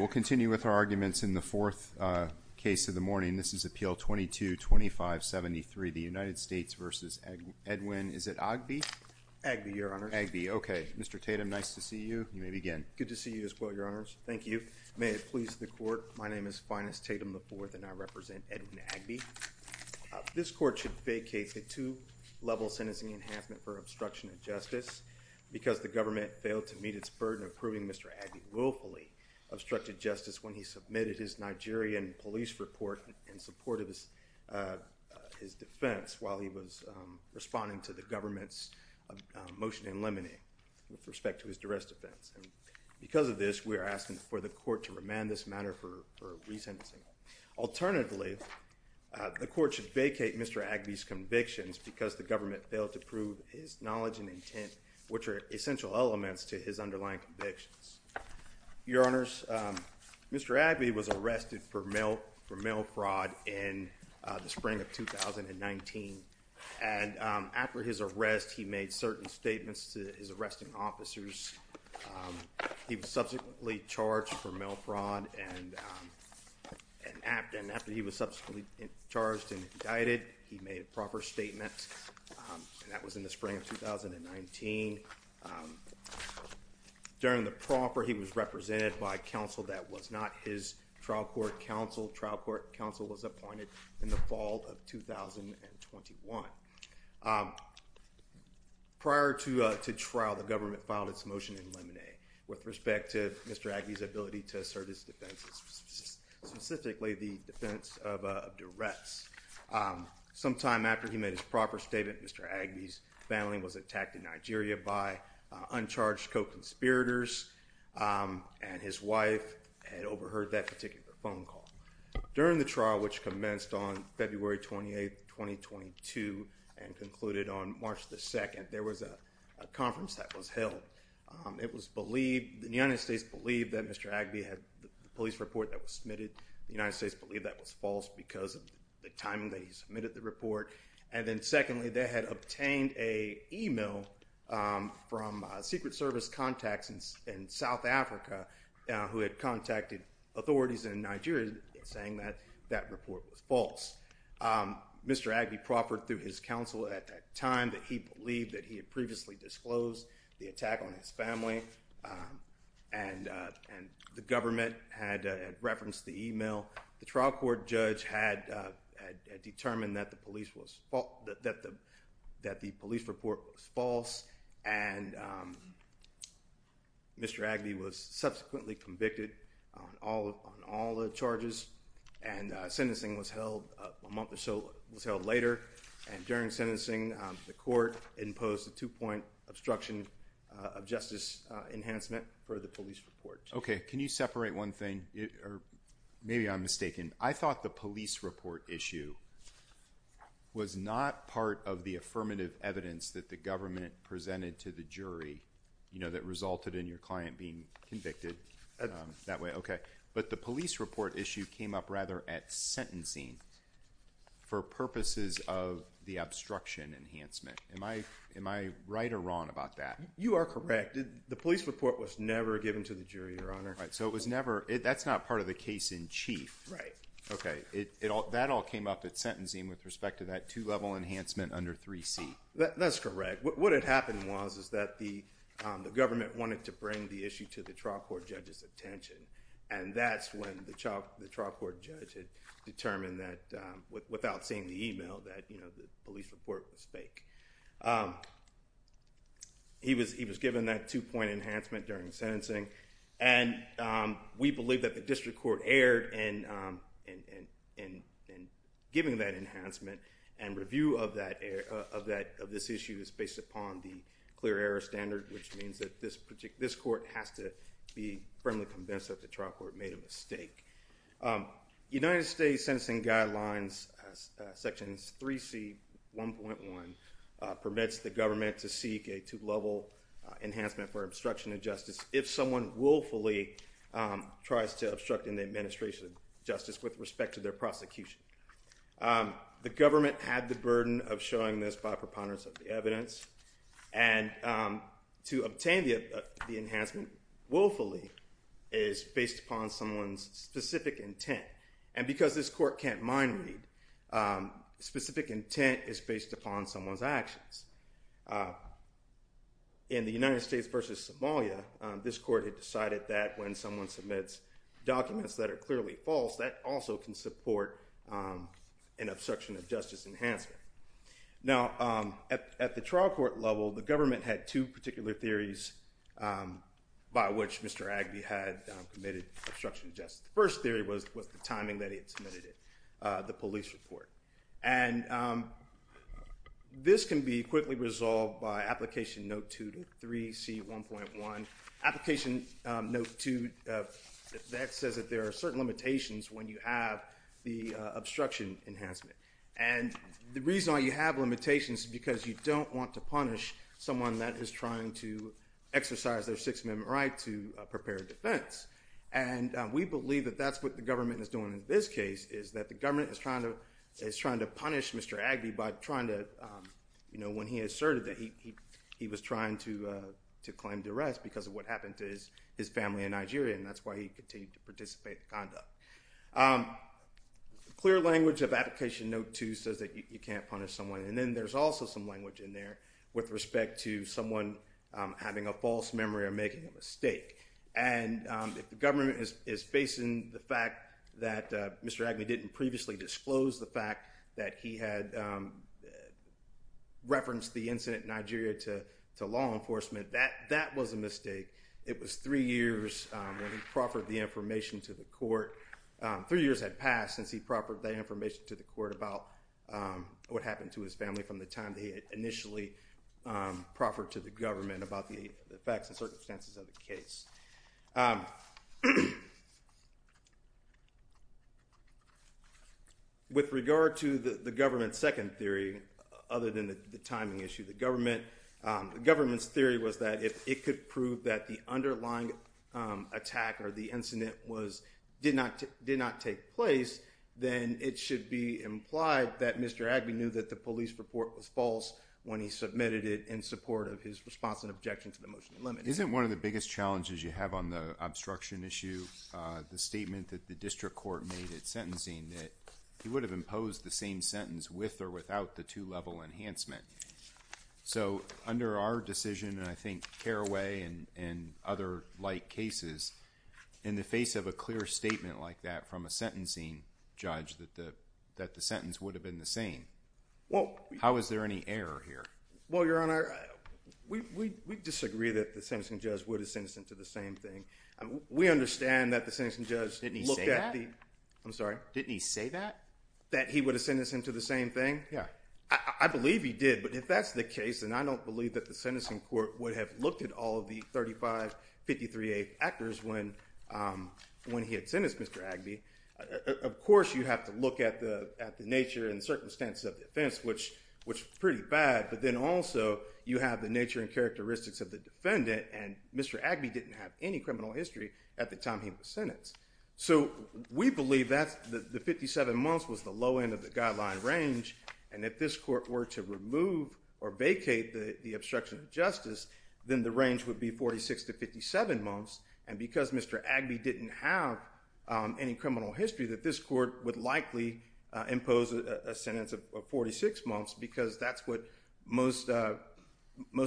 We'll continue with our arguments in the fourth case of the morning. This is Appeal 22-2573, the United States v. Edwin, is it Agbi? Agbi, Your Honor. Agbi, okay. Mr. Tatum, nice to see you. You may begin. Good to see you as well, Your Honors. Thank you. May it please the Court, my name is Finus Tatum IV and I represent Edwin Agbi. This Court should vacate the two-level sentencing enhancement for obstruction of justice because the government failed to meet its burden of proving Mr. Agbi willfully obstructed justice when he submitted his Nigerian police report in support of his defense while he was responding to the government's motion to eliminate with respect to his duress defense. And because of this, we are asking for the Court to remand this matter for resentencing. Alternatively, the Court should vacate Mr. Agbi's convictions because the government failed to prove his knowledge and intent, which are essential elements to his underlying convictions. Your Honors, Mr. Agbi was arrested for mail fraud in the spring of 2019. And after his arrest, he made certain statements to his arresting officers. He was subsequently charged for mail fraud and after he was subsequently charged and indicted, he made a proper statement, and that was in the spring of 2019. During the proffer, he was represented by counsel that was not his trial court counsel. Trial court counsel was appointed in the fall of 2021. Prior to trial, the government filed its motion to eliminate with respect to Mr. Agbi's ability to assert his defense, specifically the defense of duress. Sometime after he made his proper statement, Mr. Agbi's family was attacked in Nigeria by uncharged co-conspirators, and his wife had overheard that particular phone call. During the trial, which commenced on February 28, 2022, and concluded on March 2, there was a conference that was held. The United States believed that Mr. Agbi had the police report that was submitted. The United States believed that was false because of the timing that he submitted the report. And then secondly, they had obtained an email from Secret Service contacts in South Africa who had contacted authorities in Nigeria saying that that report was false. Mr. Agbi proffered through his counsel at that time that he believed that he had previously disclosed the attack on his family, and the government had referenced the email. The trial court judge had determined that the police report was false, and Mr. Agbi was subsequently convicted on all the charges, and sentencing was held a month or so later. And during sentencing, the court imposed a two-point obstruction of justice enhancement for the police report. Okay. Can you separate one thing? Or maybe I'm mistaken. I thought the police report issue was not part of the affirmative evidence that the government presented to the jury, you know, that resulted in your client being convicted that way. Okay. But the police report issue came up rather at sentencing for purposes of the obstruction enhancement. Am I right or wrong about that? You are correct. The police report was never given to the jury, Your Honor. All right. So it was never – that's not part of the case in chief. Right. Okay. That all came up at sentencing with respect to that two-level enhancement under 3C. That's correct. What had happened was that the government wanted to bring the issue to the trial court judge's attention, and that's when the trial court judge had determined that, without seeing the email, that the police report was fake. He was given that two-point enhancement during sentencing, and we believe that the district court erred in giving that enhancement, and review of this issue is based upon the clear error standard, which means that this court has to be firmly convinced that the trial court made a mistake. United States Sentencing Guidelines Section 3C.1.1 permits the government to seek a two-level enhancement for obstruction of justice if someone willfully tries to obstruct an administration of justice with respect to their prosecution. The government had the burden of showing this by preponderance of the evidence, and to obtain the enhancement willfully is based upon someone's specific intent, and because this court can't mind read, specific intent is based upon someone's actions. In the United States v. Somalia, this court had decided that when someone submits documents that are clearly false, that also can support an obstruction of justice enhancement. Now, at the trial court level, the government had two particular theories by which Mr. Agby had committed obstruction of justice. The first theory was the timing that he had submitted the police report, and this can be quickly resolved by Application Note 2 to 3C.1.1. Application Note 2, that says that there are certain limitations when you have the obstruction enhancement, and the reason why you have limitations is because you don't want to punish someone that is trying to exercise their Sixth Amendment right to prepare defense, and we believe that that's what the government is doing in this case, is that the government is trying to punish Mr. Agby by trying to, you know, when he asserted that he was trying to claim duress because of what happened to his family in Nigeria, and that's why he continued to participate in conduct. Clear language of Application Note 2 says that you can't punish someone, and then there's also some language in there with respect to someone having a false memory or making a mistake, and if the government is facing the fact that Mr. Agby didn't previously disclose the fact that he had referenced the incident in Nigeria to law enforcement, that was a mistake. It was three years when he proffered the information to the court. Three years had passed since he proffered that information to the court about what happened to his family from the time that he had initially proffered to the government about the facts and circumstances of the case. With regard to the government's second theory, other than the timing issue, the government's theory was that if it could prove that the underlying attack or the incident did not take place, then it should be implied that Mr. Agby knew that the police report was false when he submitted it in support of his response and objection to the motion to limit it. Isn't one of the biggest challenges you have on the obstruction issue the statement that the district court made at sentencing that he would have imposed the same sentence with or without the two-level enhancement? So, under our decision, and I think Carraway and other like cases, in the face of a clear statement like that from a sentencing judge that the sentence would have been the same, how is there any error here? Well, Your Honor, we disagree that the sentencing judge would have sentenced him to the same thing. We understand that the sentencing judge looked at the… Didn't he say that? I'm sorry? Didn't he say that? That he would have sentenced him to the same thing? Yeah. I believe he did, but if that's the case, then I don't believe that the sentencing court would have looked at all of the 3553A actors when he had sentenced Mr. Agby. Of course, you have to look at the nature and circumstances of the offense, which is pretty bad, but then also you have the nature and characteristics of the defendant, and Mr. Agby didn't have any criminal history at the time he was sentenced. So, we believe that the 57 months was the low end of the guideline range, and if this court were to remove or vacate the obstruction of justice, then the range would be 46 to 57 months, and because Mr. Agby didn't have any criminal history, that this court would likely impose a sentence of 46 months because that's what most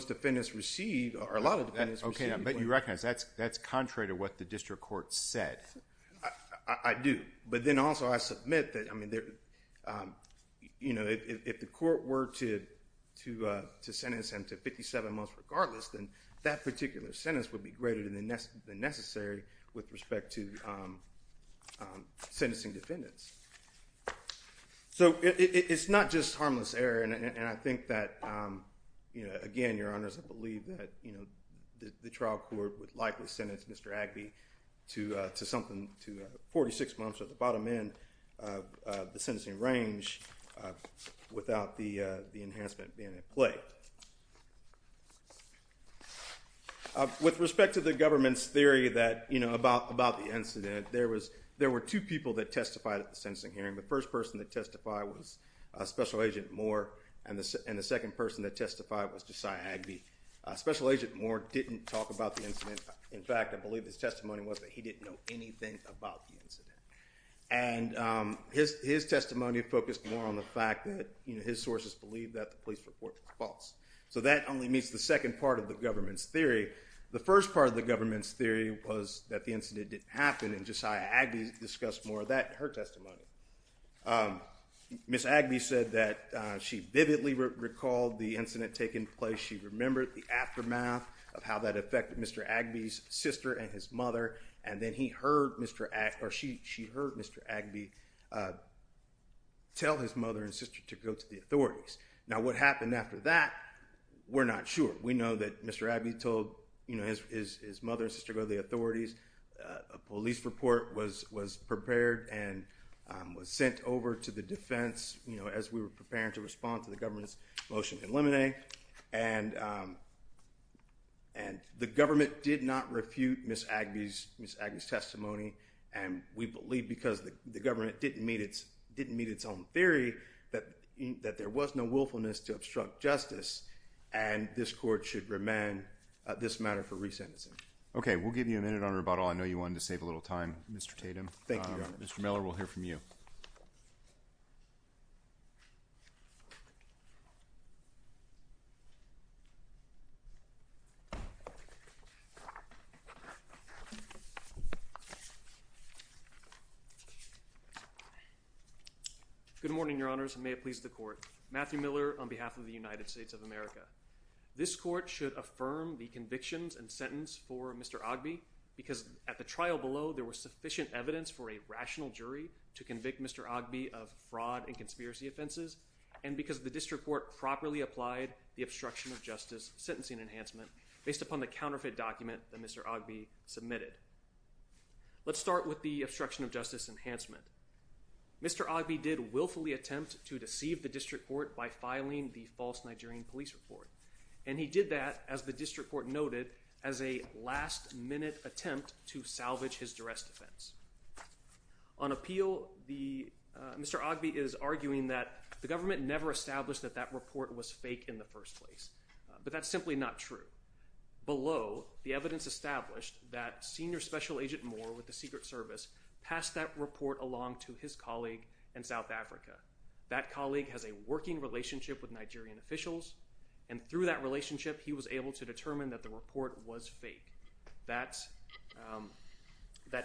defendants receive, or a lot of defendants receive. Okay, but you recognize that's contrary to what the district court said. I do. But then also I submit that if the court were to sentence him to 57 months regardless, then that particular sentence would be greater than necessary with respect to sentencing defendants. So, it's not just harmless error, and I think that, again, Your Honors, I believe that the trial court would likely sentence Mr. Agby to 46 months at the bottom end of the sentencing range without the enhancement being in play. With respect to the government's theory about the incident, there were two people that testified at the sentencing hearing. The first person that testified was Special Agent Moore, and the second person that testified was Josiah Agby. Special Agent Moore didn't talk about the incident. In fact, I believe his testimony was that he didn't know anything about the incident. And his testimony focused more on the fact that his sources believed that the police report was false. So that only meets the second part of the government's theory. The first part of the government's theory was that the incident didn't happen, and Josiah Agby discussed more of that in her testimony. Ms. Agby said that she vividly recalled the incident taking place. She remembered the aftermath of how that affected Mr. Agby's sister and his mother, and then she heard Mr. Agby tell his mother and sister to go to the authorities. Now, what happened after that, we're not sure. We know that Mr. Agby told his mother and sister to go to the authorities. A police report was prepared and was sent over to the defense as we were preparing to respond to the government's motion in limine. And the government did not refute Ms. Agby's testimony, and we believe because the government didn't meet its own theory that there was no willfulness to obstruct justice, and this court should remand this matter for re-sentencing. Okay, we'll give you a minute on rebuttal. I know you wanted to save a little time, Mr. Tatum. Thank you, Your Honor. Mr. Miller, we'll hear from you. Good morning, Your Honors, and may it please the Court. Matthew Miller on behalf of the United States of America. This court should affirm the convictions and sentence for Mr. Agby because at the trial below there was sufficient evidence for a rational jury to convict Mr. Agby of fraud and conspiracy offenses, and because the district court properly applied the obstruction of justice sentencing enhancement based upon the counterfeit document that Mr. Agby submitted. Let's start with the obstruction of justice enhancement. Mr. Agby did willfully attempt to deceive the district court by filing the false Nigerian police report, and he did that, as the district court noted, as a last-minute attempt to salvage his duress defense. On appeal, Mr. Agby is arguing that the government never established that that report was fake in the first place, but that's simply not true. Below, the evidence established that Senior Special Agent Moore with the Secret Service passed that report along to his colleague in South Africa. That colleague has a working relationship with Nigerian officials, and through that relationship he was able to determine that the report was fake. That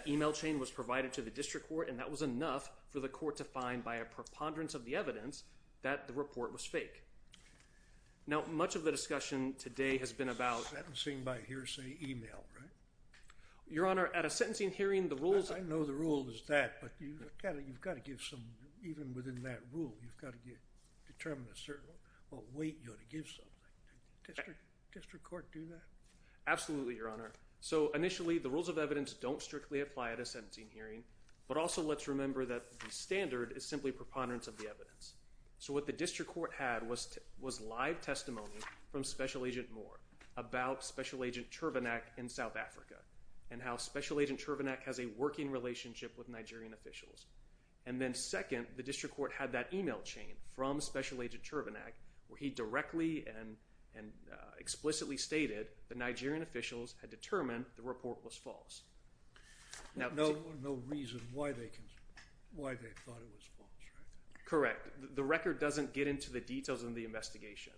email chain was provided to the district court, and that was enough for the court to find by a preponderance of the evidence that the report was fake. Now, much of the discussion today has been about... Sentencing by hearsay email, right? Your Honor, at a sentencing hearing the rules... I know the rule is that, but you've got to give some... Even within that rule, you've got to determine a certain... Well, wait, you ought to give something. Did the district court do that? Absolutely, Your Honor. So initially, the rules of evidence don't strictly apply at a sentencing hearing, but also let's remember that the standard is simply preponderance of the evidence. So what the district court had was live testimony from Special Agent Moore about Special Agent Chervenak in South Africa and how Special Agent Chervenak has a working relationship with Nigerian officials. And then second, the district court had that email chain from Special Agent Chervenak where he directly and explicitly stated that Nigerian officials had determined the report was false. No reason why they thought it was false, right? Correct. The record doesn't get into the details of the investigation.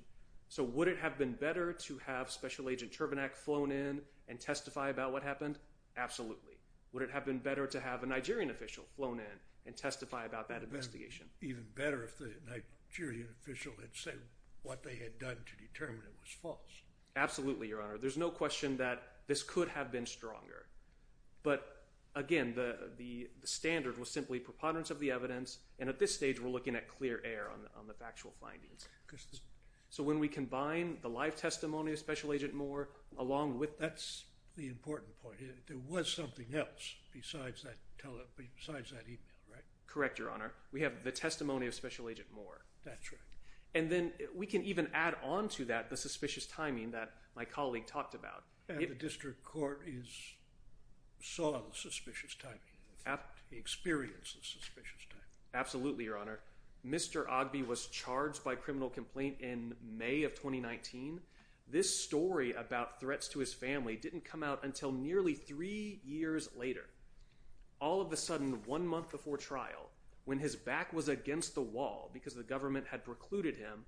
So would it have been better to have Special Agent Chervenak flown in and testify about what happened? Absolutely. Would it have been better to have a Nigerian official flown in and testify about that investigation? Even better if the Nigerian official had said what they had done to determine it was false. Absolutely, Your Honor. There's no question that this could have been stronger. But again, the standard was simply preponderance of the evidence, and at this stage, we're looking at clear air on the factual findings. So when we combine the live testimony of Special Agent Moore along with that. That's the important point. There was something else besides that email, right? Correct, Your Honor. We have the testimony of Special Agent Moore. That's right. And then we can even add on to that the suspicious timing that my colleague talked about. And the district court saw the suspicious timing. He experienced the suspicious timing. Absolutely, Your Honor. Mr. Ogbe was charged by criminal complaint in May of 2019. This story about threats to his family didn't come out until nearly three years later. All of a sudden, one month before trial, when his back was against the wall because the government had precluded him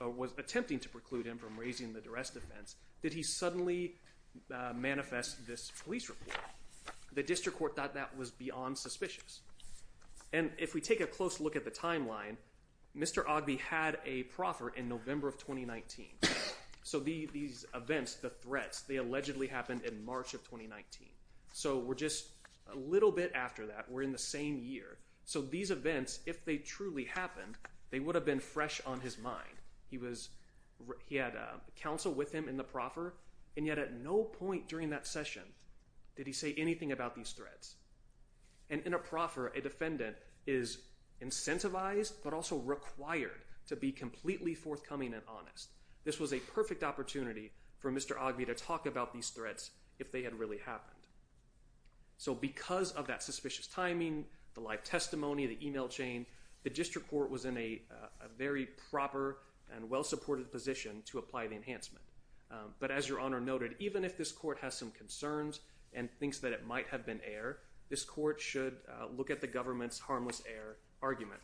or was attempting to preclude him from raising the duress defense, did he suddenly manifest this police report? The district court thought that was beyond suspicious. And if we take a close look at the timeline, Mr. Ogbe had a proffer in November of 2019. So these events, the threats, they allegedly happened in March of 2019. So we're just a little bit after that. We're in the same year. So these events, if they truly happened, they would have been fresh on his mind. He had counsel with him in the proffer, and yet at no point during that session did he say anything about these threats. And in a proffer, a defendant is incentivized but also required to be completely forthcoming and honest. This was a perfect opportunity for Mr. Ogbe to talk about these threats if they had really happened. So because of that suspicious timing, the live testimony, the email chain, the district court was in a very proper and well-supported position to apply the enhancement. But as Your Honor noted, even if this court has some concerns and thinks that it might have been error, this court should look at the government's harmless error argument.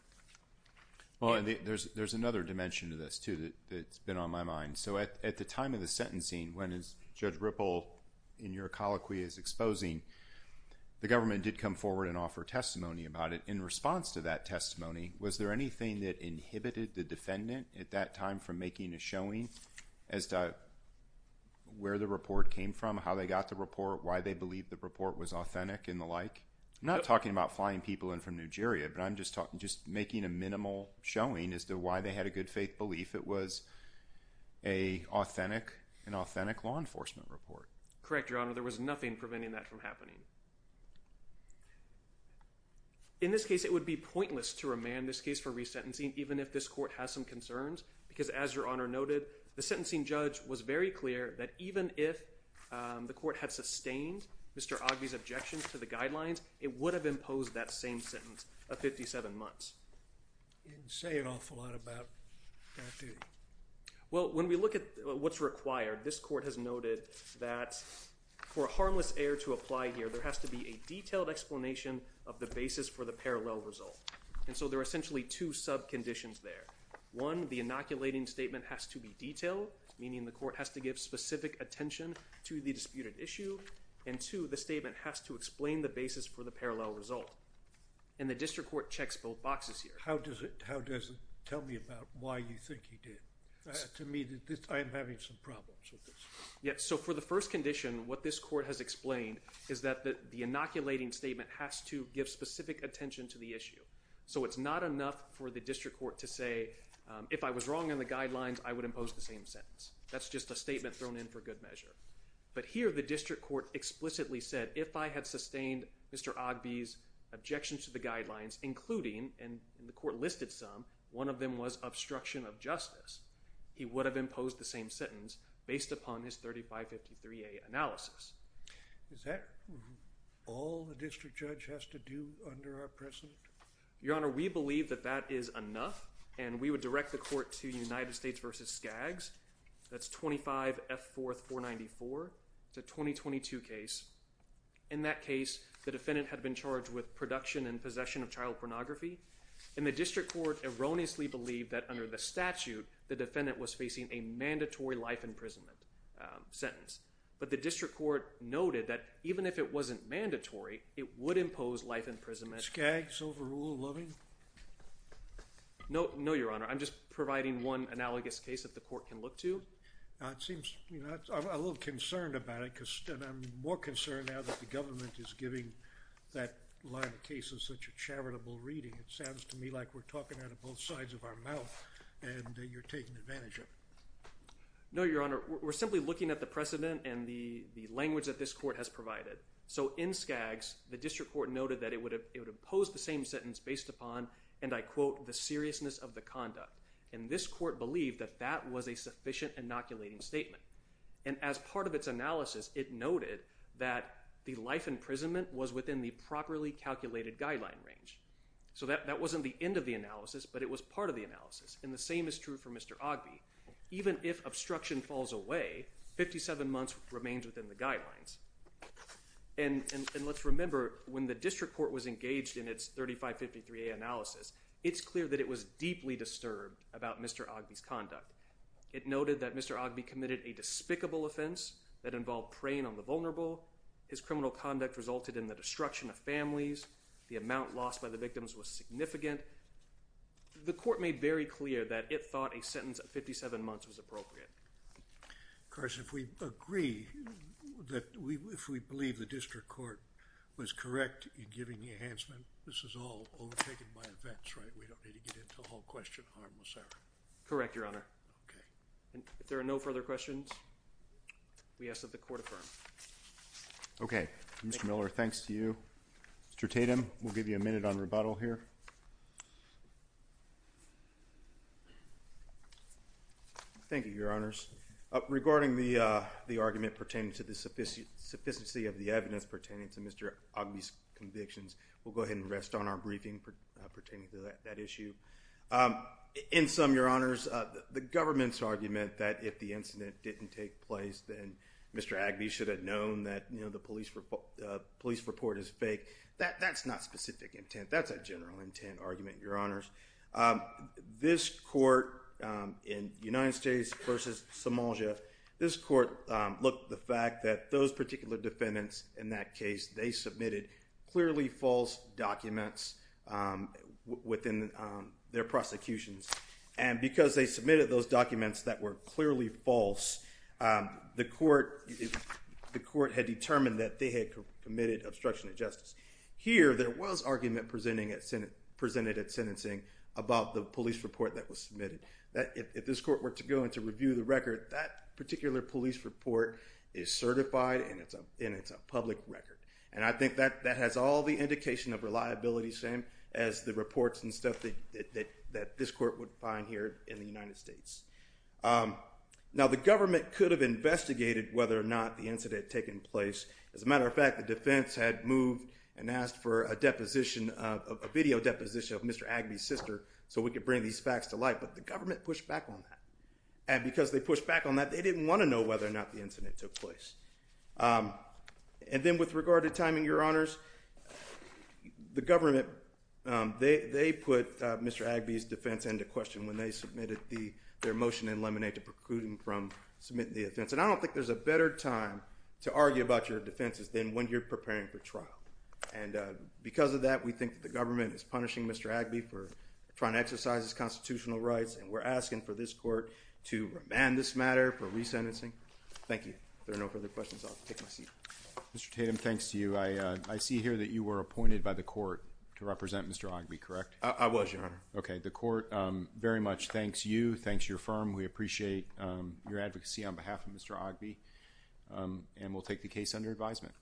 Well, and there's another dimension to this too that's been on my mind. So at the time of the sentencing, when Judge Ripple, in your colloquy, is exposing, the government did come forward and offer testimony about it. In response to that testimony, was there anything that inhibited the defendant at that time from making a showing as to where the report came from, how they got the report, why they believed the report was authentic and the like? I'm not talking about flying people in from Nigeria, but I'm just making a minimal showing as to why they had a good faith belief it was an authentic law enforcement report. Correct, Your Honor. There was nothing preventing that from happening. In this case, it would be pointless to remand this case for resentencing even if this court has some concerns. Because as Your Honor noted, the sentencing judge was very clear that even if the court had sustained Mr. Ogbee's objections to the guidelines, it would have imposed that same sentence of 57 months. You didn't say an awful lot about that, did you? Well, when we look at what's required, this court has noted that for a harmless error to apply here, there has to be a detailed explanation of the basis for the parallel result. And so there are essentially two sub-conditions there. One, the inoculating statement has to be detailed, meaning the court has to give specific attention to the disputed issue. And two, the statement has to explain the basis for the parallel result. And the district court checks both boxes here. How does it tell me about why you think he did? To me, I'm having some problems with this. So for the first condition, what this court has explained is that the inoculating statement has to give specific attention to the issue. So it's not enough for the district court to say, if I was wrong in the guidelines, I would impose the same sentence. That's just a statement thrown in for good measure. But here, the district court explicitly said, if I had sustained Mr. Ogbee's objections to the guidelines, including, and the court listed some, one of them was obstruction of justice, he would have imposed the same sentence based upon his 3553A analysis. Is that all the district judge has to do under our precedent? Your Honor, we believe that that is enough, and we would direct the court to United States v. Skaggs, that's 25F4494. It's a 2022 case. In that case, the defendant had been charged with production and possession of child pornography. And the district court erroneously believed that under the statute, the defendant was facing a mandatory life imprisonment sentence. But the district court noted that even if it wasn't mandatory, it would impose life imprisonment. Skaggs overruled Loving? No, Your Honor. I'm just providing one analogous case that the court can look to. It seems, you know, I'm a little concerned about it, and I'm more concerned now that the government is giving that line of cases such a charitable reading. It sounds to me like we're talking out of both sides of our mouth, and you're taking advantage of it. No, Your Honor. We're simply looking at the precedent and the language that this court has provided. So, in Skaggs, the district court noted that it would impose the same sentence based upon, and I quote, the seriousness of the conduct. And this court believed that that was a sufficient inoculating statement. And as part of its analysis, it noted that the life imprisonment was within the properly calculated guideline range. So that wasn't the end of the analysis, but it was part of the analysis. And the same is true for Mr. Ogbee. Even if obstruction falls away, 57 months remains within the guidelines. And let's remember, when the district court was engaged in its 3553A analysis, it's clear that it was deeply disturbed about Mr. Ogbee's conduct. It noted that Mr. Ogbee committed a despicable offense that involved preying on the vulnerable. His criminal conduct resulted in the destruction of families. The amount lost by the victims was significant. The court made very clear that it thought a sentence of 57 months was appropriate. Of course, if we believe the district court was correct in giving the enhancement, this is all overtaken by events, right? We don't need to get into the whole question of harmless error. Correct, Your Honor. Okay. If there are no further questions, we ask that the court affirm. Okay. Mr. Miller, thanks to you. Mr. Tatum, we'll give you a minute on rebuttal here. Thank you, Your Honors. Regarding the argument pertaining to the sophisticacy of the evidence pertaining to Mr. Ogbee's convictions, we'll go ahead and rest on our briefing pertaining to that issue. In sum, Your Honors, the government's argument that if the incident didn't take place, then Mr. Ogbee should have known that the police report is fake, that's not specific intent. That's a general intent argument. Your Honors, this court in United States versus Somalia, this court looked at the fact that those particular defendants in that case, they submitted clearly false documents within their prosecutions. And because they submitted those documents that were clearly false, the court had determined that they had committed obstruction of justice. Here, there was argument presented at sentencing about the police report that was submitted. If this court were to go in to review the record, that particular police report is certified and it's a public record. And I think that has all the indication of reliability, same as the reports and stuff that this court would find here in the United States. Now, the government could have investigated whether or not the incident had taken place. As a matter of fact, the defense had moved and asked for a video deposition of Mr. Ogbee's sister so we could bring these facts to light, but the government pushed back on that. And because they pushed back on that, they didn't want to know whether or not the incident took place. And then with regard to timing, Your Honors, the government, they put Mr. Ogbee's defense into question when they submitted their motion in Lemonade to preclude him from submitting the offense. And I don't think there's a better time to argue about your defenses than when you're preparing for trial. And because of that, we think the government is punishing Mr. Ogbee for trying to exercise his constitutional rights and we're asking for this court to remand this matter for resentencing. Thank you. If there are no further questions, I'll take my seat. Mr. Tatum, thanks to you. I see here that you were appointed by the court to represent Mr. Ogbee, correct? I was, Your Honor. Okay, the court very much thanks you, thanks your firm. We appreciate your advocacy on behalf of Mr. Ogbee and we'll take the case under advisement.